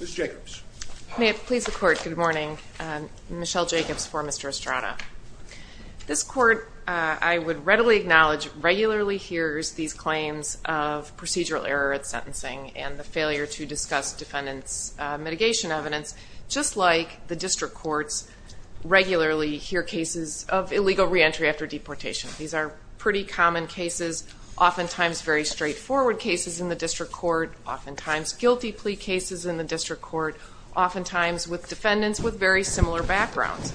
Ms. Jacobs. May it please the Court, good morning. Michelle Jacobs for Mr. Estrada. This Court, I would readily acknowledge, regularly hears these claims of procedural error at sentencing and the failure to discuss defendant's mitigation evidence, just like the district courts regularly hear cases of illegal reentry after deportation. These are pretty common cases, oftentimes very straightforward cases in the district court, oftentimes guilty plea cases in the district court, oftentimes with defendants with very similar backgrounds.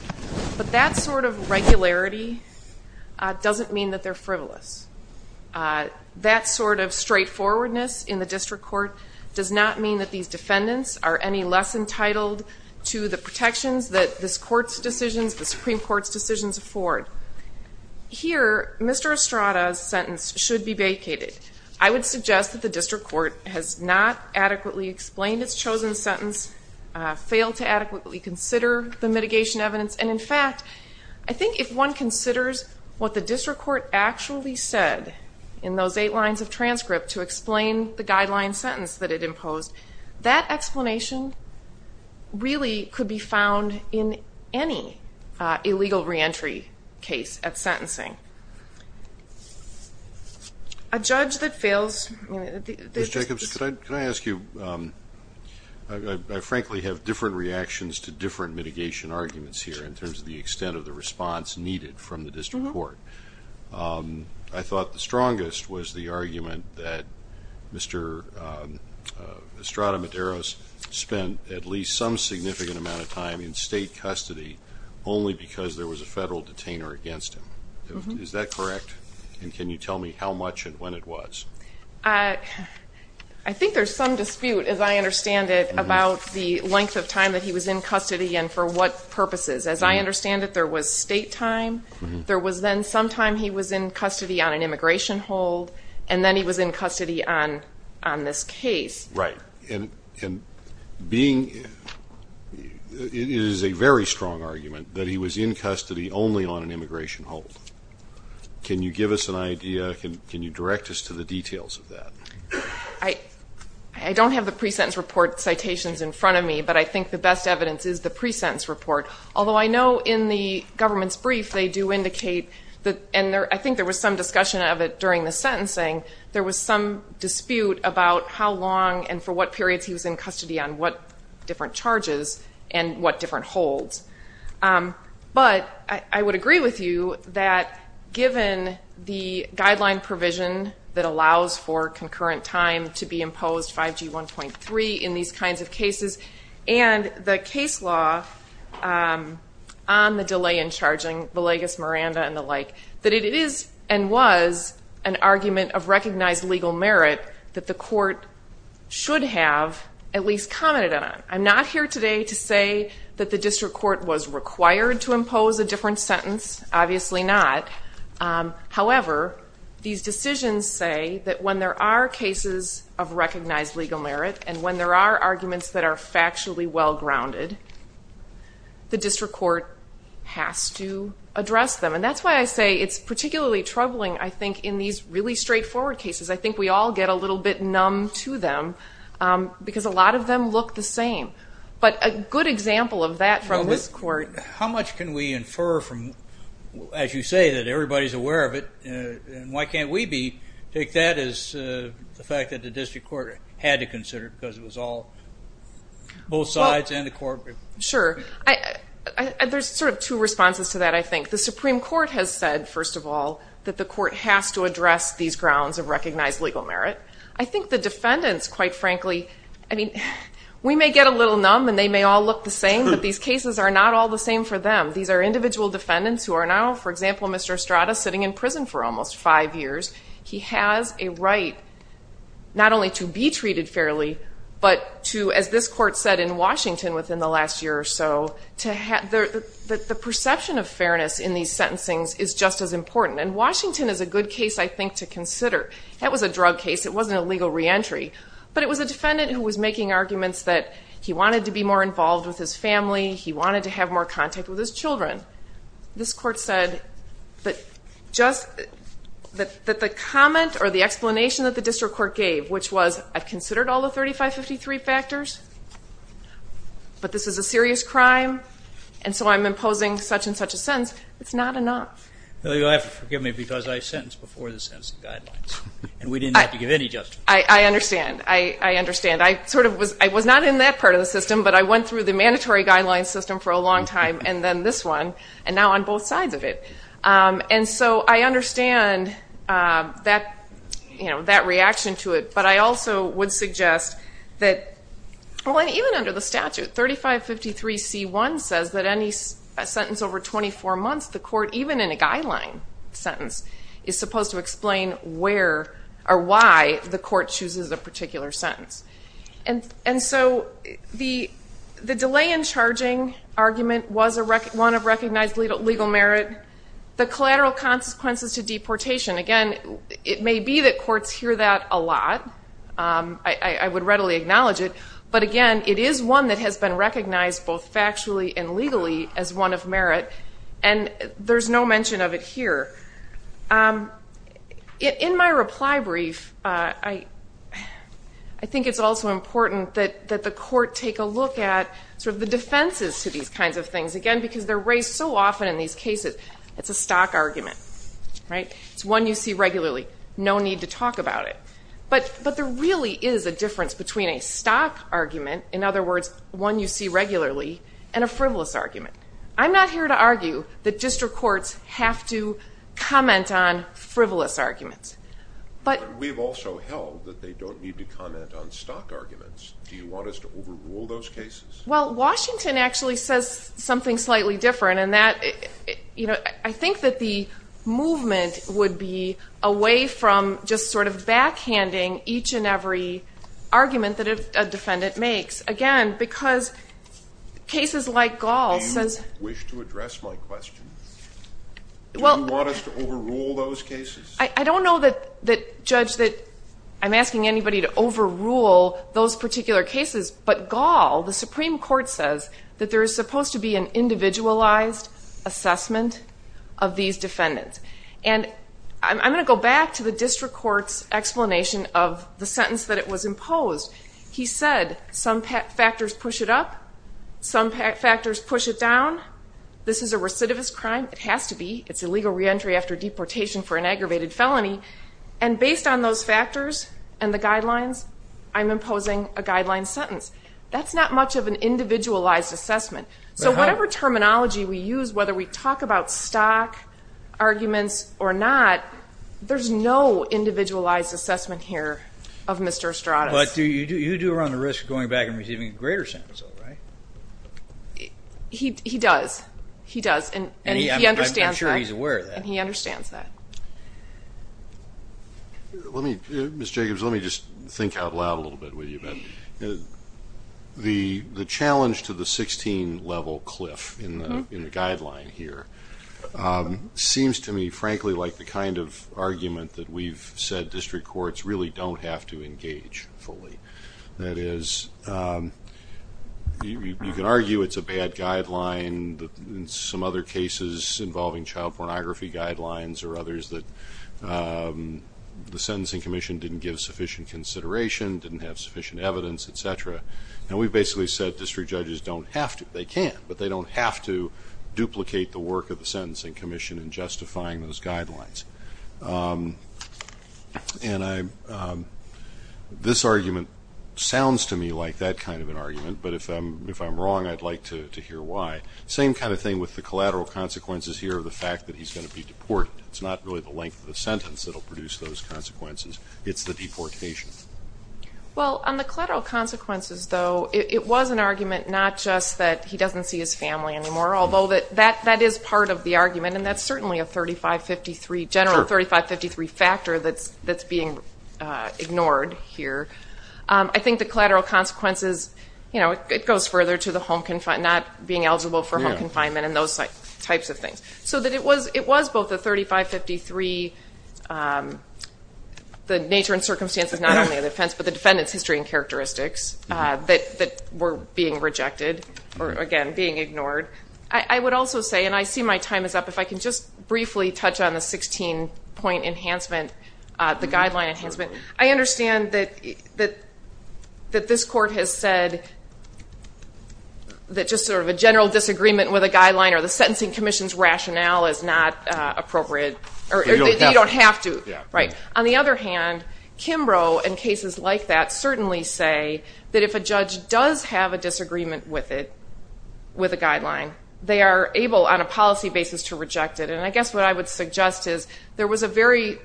But that sort of regularity doesn't mean that they're frivolous. That sort of straightforwardness in the district court does not mean that these defendants are any less entitled to the protections that this Court's decisions, the Supreme Court's decisions afford. Here, Mr. Estrada's sentence should be vacated. I would suggest that the district court has not adequately explained its chosen sentence, failed to adequately consider the mitigation evidence, and in fact, I think if one considers what the district court actually said in those eight lines of transcript to explain the guideline sentence that it imposed, that explanation really could be found in any illegal reentry case at sentencing. A judge that fails... Ms. Jacobs, can I ask you, I frankly have different reactions to different mitigation arguments here in terms of the extent of the response needed from the district court. I thought the strongest was the argument that Mr. Estrada Medeiros spent at least some significant amount of time in state custody only because there was a federal detainer against him. Is that correct, and can you tell me how much and when it was? I think there's some dispute, as I understand it, about the length of time that he was in custody and for what purposes. As I understand it, there was state time, there was then some time he was in custody on an immigration hold, and then he was in custody on this case. Right, and it is a very strong argument that he was in custody only on an immigration hold. Can you give us an idea, can you direct us to the details of that? I don't have the pre-sentence report citations in front of me, but I think the best evidence is the pre-sentence report, although I know in the government's brief they do indicate, and I think there was some discussion of it during the sentencing, there was some dispute about how long and for what periods he was in custody on what different charges and what different holds. But I would agree with you that given the guideline provision that allows for concurrent time to be imposed, 5G 1.3, in these kinds of cases, and the case law on the delay in charging, Villegas, Miranda, and the like, that it is and was an argument of recognized legal merit that the court should have at least commented on. I'm not here today to say that the district court was required to impose a different sentence. Obviously not. However, these decisions say that when there are cases of recognized legal merit, and when there are arguments that are factually well-grounded, the district court has to address them. And that's why I say it's particularly troubling, I think, in these really straightforward cases. I think we all get a little bit numb to them because a lot of them look the same. But a good example of that from this court. Well, how much can we infer from, as you say, that everybody's aware of it, and why can't we take that as the fact that the district court had to consider it because it was all both sides and the court? Sure. There's sort of two responses to that, I think. The Supreme Court has said, first of all, that the court has to address these grounds of recognized legal merit. I think the defendants, quite frankly, I mean, we may get a little numb and they may all look the same, but these cases are not all the same for them. These are individual defendants who are now, for example, Mr. Estrada sitting in prison for almost five years. He has a right not only to be treated fairly, but to, as this court said in Washington within the last year or so, the perception of fairness in these sentencings is just as important. And Washington is a good case, I think, to consider. That was a drug case. It wasn't a legal reentry. But it was a defendant who was making arguments that he wanted to be more involved with his family, he wanted to have more contact with his children. This court said that the comment or the explanation that the district court gave, which was I've considered all the 3553 factors, but this is a serious crime, and so I'm imposing such and such a sentence, it's not enough. Well, you'll have to forgive me because I sentenced before the sentencing guidelines, and we didn't have to give any justification. I understand. I understand. I sort of was not in that part of the system, but I went through the mandatory guidelines system for a long time, and then this one, and now on both sides of it. And so I understand that reaction to it, but I also would suggest that even under the statute, 3553C1 says that any sentence over 24 months, the court, even in a guideline sentence, is supposed to explain where or why the court chooses a particular sentence. And so the delay in charging argument was one of recognized legal merit. The collateral consequences to deportation, again, it may be that courts hear that a lot. I would readily acknowledge it. But, again, it is one that has been recognized both factually and legally as one of merit, and there's no mention of it here. In my reply brief, I think it's also important that the court take a look at sort of the defenses to these kinds of things, again, because they're raised so often in these cases. It's a stock argument, right? It's one you see regularly. No need to talk about it. But there really is a difference between a stock argument, in other words, one you see regularly, and a frivolous argument. I'm not here to argue that district courts have to comment on frivolous arguments. But we've also held that they don't need to comment on stock arguments. Do you want us to overrule those cases? Well, Washington actually says something slightly different, and that, you know, I think that the movement would be away from just sort of backhanding each and every argument that a defendant makes. Again, because cases like Gaul says — Do you wish to address my question? Do you want us to overrule those cases? I don't know that, Judge, that I'm asking anybody to overrule those particular cases, but Gaul, the Supreme Court says that there is supposed to be an individualized assessment of these defendants. And I'm going to go back to the district court's explanation of the sentence that it was imposed. He said some factors push it up, some factors push it down. This is a recidivist crime. It has to be. It's illegal reentry after deportation for an aggravated felony. And based on those factors and the guidelines, I'm imposing a guideline sentence. That's not much of an individualized assessment. So whatever terminology we use, whether we talk about stock arguments or not, there's no individualized assessment here of Mr. Estrada's. But you do run the risk of going back and receiving a greater sentence, though, right? He does. He does. And he understands that. I'm sure he's aware of that. And he understands that. Ms. Jacobs, let me just think out loud a little bit with you. The challenge to the 16-level cliff in the guideline here seems to me, frankly, like the kind of argument that we've said district courts really don't have to engage fully. That is, you can argue it's a bad guideline, in some other cases involving child pornography guidelines or others, that the Sentencing Commission didn't give sufficient consideration, didn't have sufficient evidence, et cetera. And we've basically said district judges don't have to. They can. But they don't have to duplicate the work of the Sentencing Commission in justifying those guidelines. And this argument sounds to me like that kind of an argument. But if I'm wrong, I'd like to hear why. Same kind of thing with the collateral consequences here of the fact that he's going to be deported. It's not really the length of the sentence that will produce those consequences. It's the deportation. Well, on the collateral consequences, though, it was an argument not just that he doesn't see his family anymore, although that is part of the argument, and that's certainly a 3553, general 3553 factor that's being ignored here. I think the collateral consequences, you know, it goes further to the home confinement, not being eligible for home confinement and those types of things. So it was both a 3553, the nature and circumstances not only of the offense, but the defendant's history and characteristics that were being rejected, or, again, being ignored. I would also say, and I see my time is up, if I can just briefly touch on the 16-point enhancement, the guideline enhancement. I understand that this court has said that just sort of a general disagreement with a guideline or the Sentencing Commission's rationale is not appropriate, or you don't have to. Right. On the other hand, Kimbrough and cases like that certainly say that if a judge does have a disagreement with it, with a guideline, they are able, on a policy basis, to reject it. And I guess what I would suggest is there was a very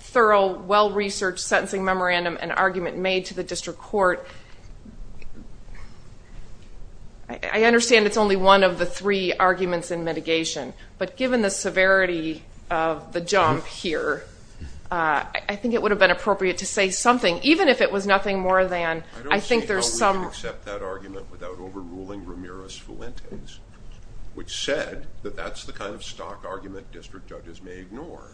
thorough, well-researched sentencing memorandum and argument made to the district court. I understand it's only one of the three arguments in mitigation, but given the severity of the jump here, I think it would have been appropriate to say something, even if it was nothing more than I think there's some. I would accept that argument without overruling Ramirez-Fuentes, which said that that's the kind of stock argument district judges may ignore.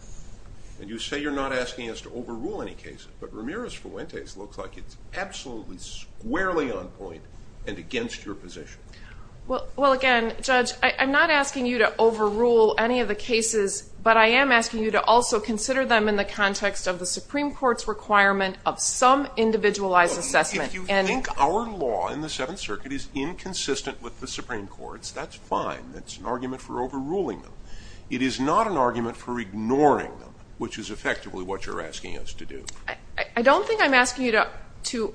And you say you're not asking us to overrule any cases, but Ramirez-Fuentes looks like it's absolutely squarely on point and against your position. Well, again, Judge, I'm not asking you to overrule any of the cases, but I am asking you to also consider them in the context of the Supreme Court's requirement of some individualized assessment. If you think our law in the Seventh Circuit is inconsistent with the Supreme Court's, that's fine. That's an argument for overruling them. It is not an argument for ignoring them, which is effectively what you're asking us to do. I don't think I'm asking you to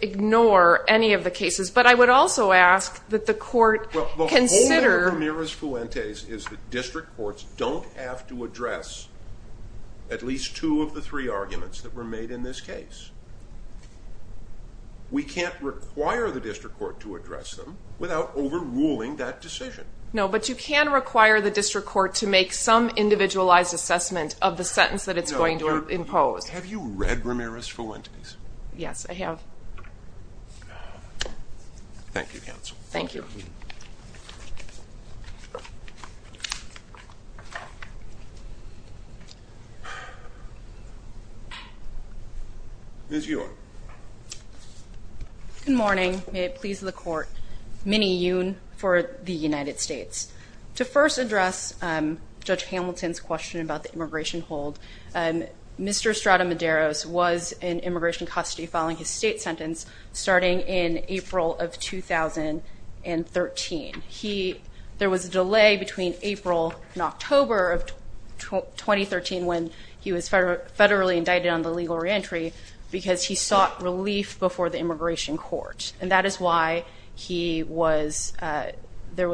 ignore any of the cases, but I would also ask that the court consider. Well, the whole thing with Ramirez-Fuentes is that district courts don't have to address at least two of the three arguments that were made in this case. We can't require the district court to address them without overruling that decision. No, but you can require the district court to make some individualized assessment of the sentence that it's going to impose. Have you read Ramirez-Fuentes? Yes, I have. Thank you, counsel. Thank you. Ms. Ewing. Good morning. May it please the court. Minnie Ewing for the United States. To first address Judge Hamilton's question about the immigration hold, Mr. Estrada-Medeiros was in immigration custody following his state sentence starting in April of 2013. There was a delay between April and October of 2013 when he was federally indicted on the legal reentry because he sought relief before the immigration court, and that is why he was ‑‑ there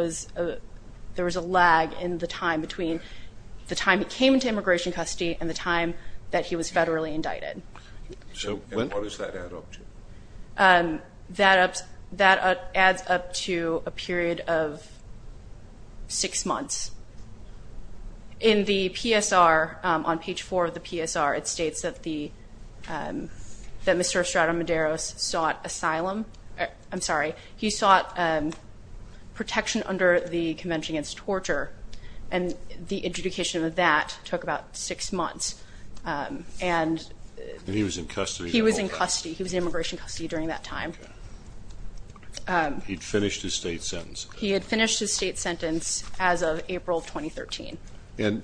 was a lag in the time between the time he came into immigration custody and the time that he was federally indicted. And what does that add up to? That adds up to a period of six months. In the PSR, on page four of the PSR, it states that Mr. Estrada-Medeiros sought asylum. I'm sorry, he sought protection under the Convention Against Torture, and the interdiction of that took about six months. And he was in custody. He was in custody. He was in immigration custody during that time. He had finished his state sentence. He had finished his state sentence as of April of 2013. And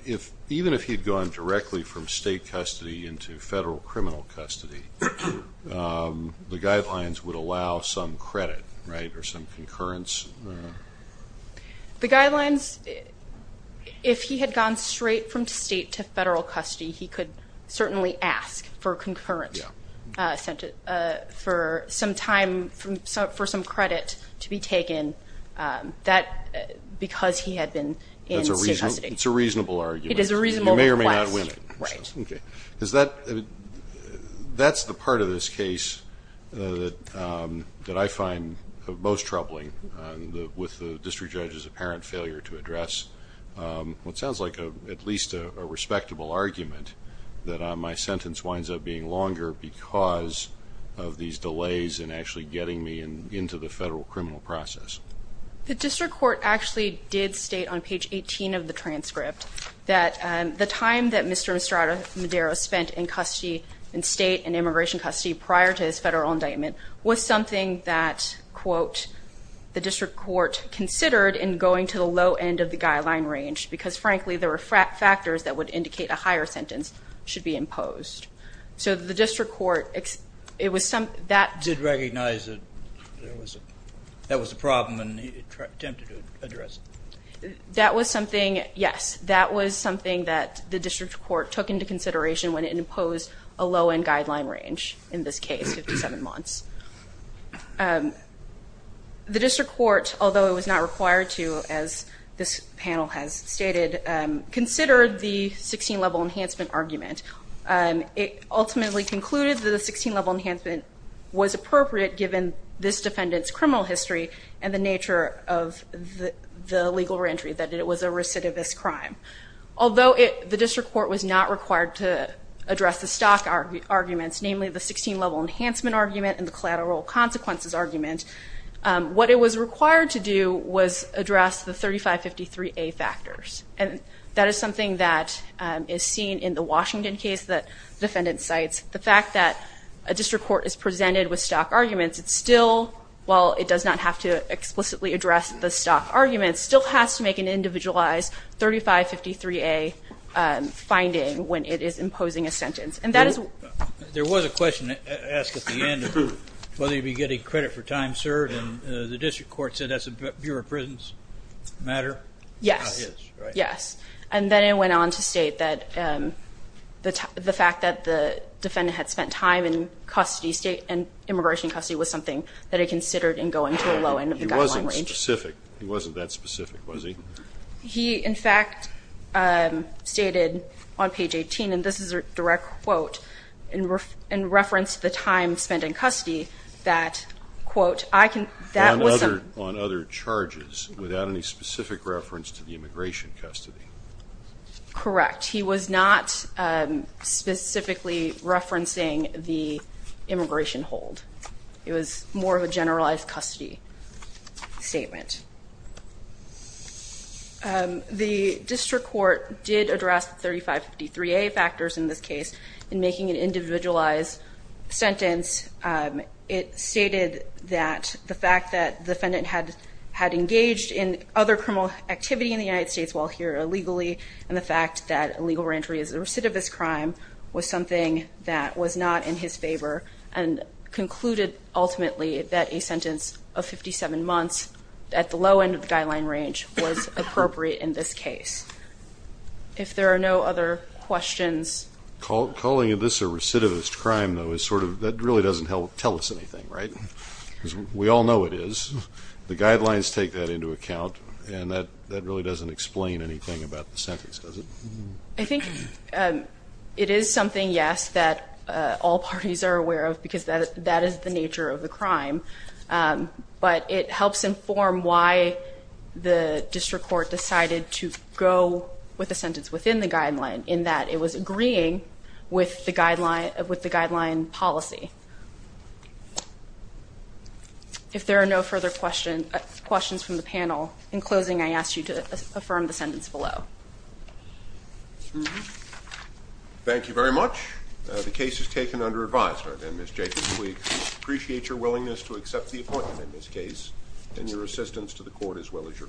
even if he had gone directly from state custody into federal criminal custody, the guidelines would allow some credit, right, or some concurrence? The guidelines, if he had gone straight from state to federal custody, he could certainly ask for some credit to be taken because he had been in state custody. It's a reasonable argument. It is a reasonable request. You may or may not win it. Right. Okay. That's the part of this case that I find most troubling with the district judge's apparent failure to address what sounds like at least a respectable argument, that my sentence winds up being longer because of these delays in actually getting me into the federal criminal process. The district court actually did state on page 18 of the transcript that the time that Mr. Estrada-Medeiros spent in custody, in state and immigration custody prior to his federal indictment, was something that, quote, the district court considered in going to the low end of the guideline range because, frankly, there were factors that would indicate a higher sentence should be imposed. So the district court, it was something that did recognize that that was a problem and attempted to address it. That was something, yes, that was something that the district court took into consideration when it imposed a low end guideline range in this case, 57 months. The district court, although it was not required to, as this panel has stated, considered the 16-level enhancement argument. It ultimately concluded that a 16-level enhancement was appropriate given this defendant's criminal history and the nature of the legal reentry, that it was a recidivist crime. Although the district court was not required to address the stock arguments, namely the 16-level enhancement argument and the collateral consequences argument, what it was required to do was address the 3553A factors. And that is something that is seen in the Washington case that the defendant cites. The fact that a district court is presented with stock arguments, it still, while it does not have to explicitly address the stock arguments, still has to make an individualized 3553A finding when it is imposing a sentence. There was a question asked at the end of whether you'd be getting credit for time, sir, and the district court said that's a Bureau of Prisons matter. Yes. Yes. And then it went on to state that the fact that the defendant had spent time in immigration custody was something that it considered in going to a low end of the guideline range. He wasn't specific. He wasn't that specific, was he? He, in fact, stated on page 18, and this is a direct quote, in reference to the time spent in custody, that, quote, I can, that was a... On other charges without any specific reference to the immigration custody. Correct. He was not specifically referencing the immigration hold. It was more of a generalized custody statement. The district court did address the 3553A factors in this case in making an individualized sentence. It stated that the fact that the defendant had engaged in other criminal activity in the United States while here illegally and the fact that illegal reentry is a recidivist crime was something that was not in his favor and concluded ultimately that a sentence of 57 months at the low end of the guideline range was appropriate in this case. If there are no other questions... Calling this a recidivist crime, though, is sort of... That really doesn't tell us anything, right? Because we all know it is. The guidelines take that into account, and that really doesn't explain anything about the sentence, does it? I think it is something, yes, that all parties are aware of because that is the nature of the crime, but it helps inform why the district court decided to go with a sentence within the guideline in that it was agreeing with the guideline policy. In closing, I ask you to affirm the sentence below. Thank you very much. The case is taken under advisement. Ms. Jacobs, we appreciate your willingness to accept the appointment in this case and your assistance to the court as well as your client.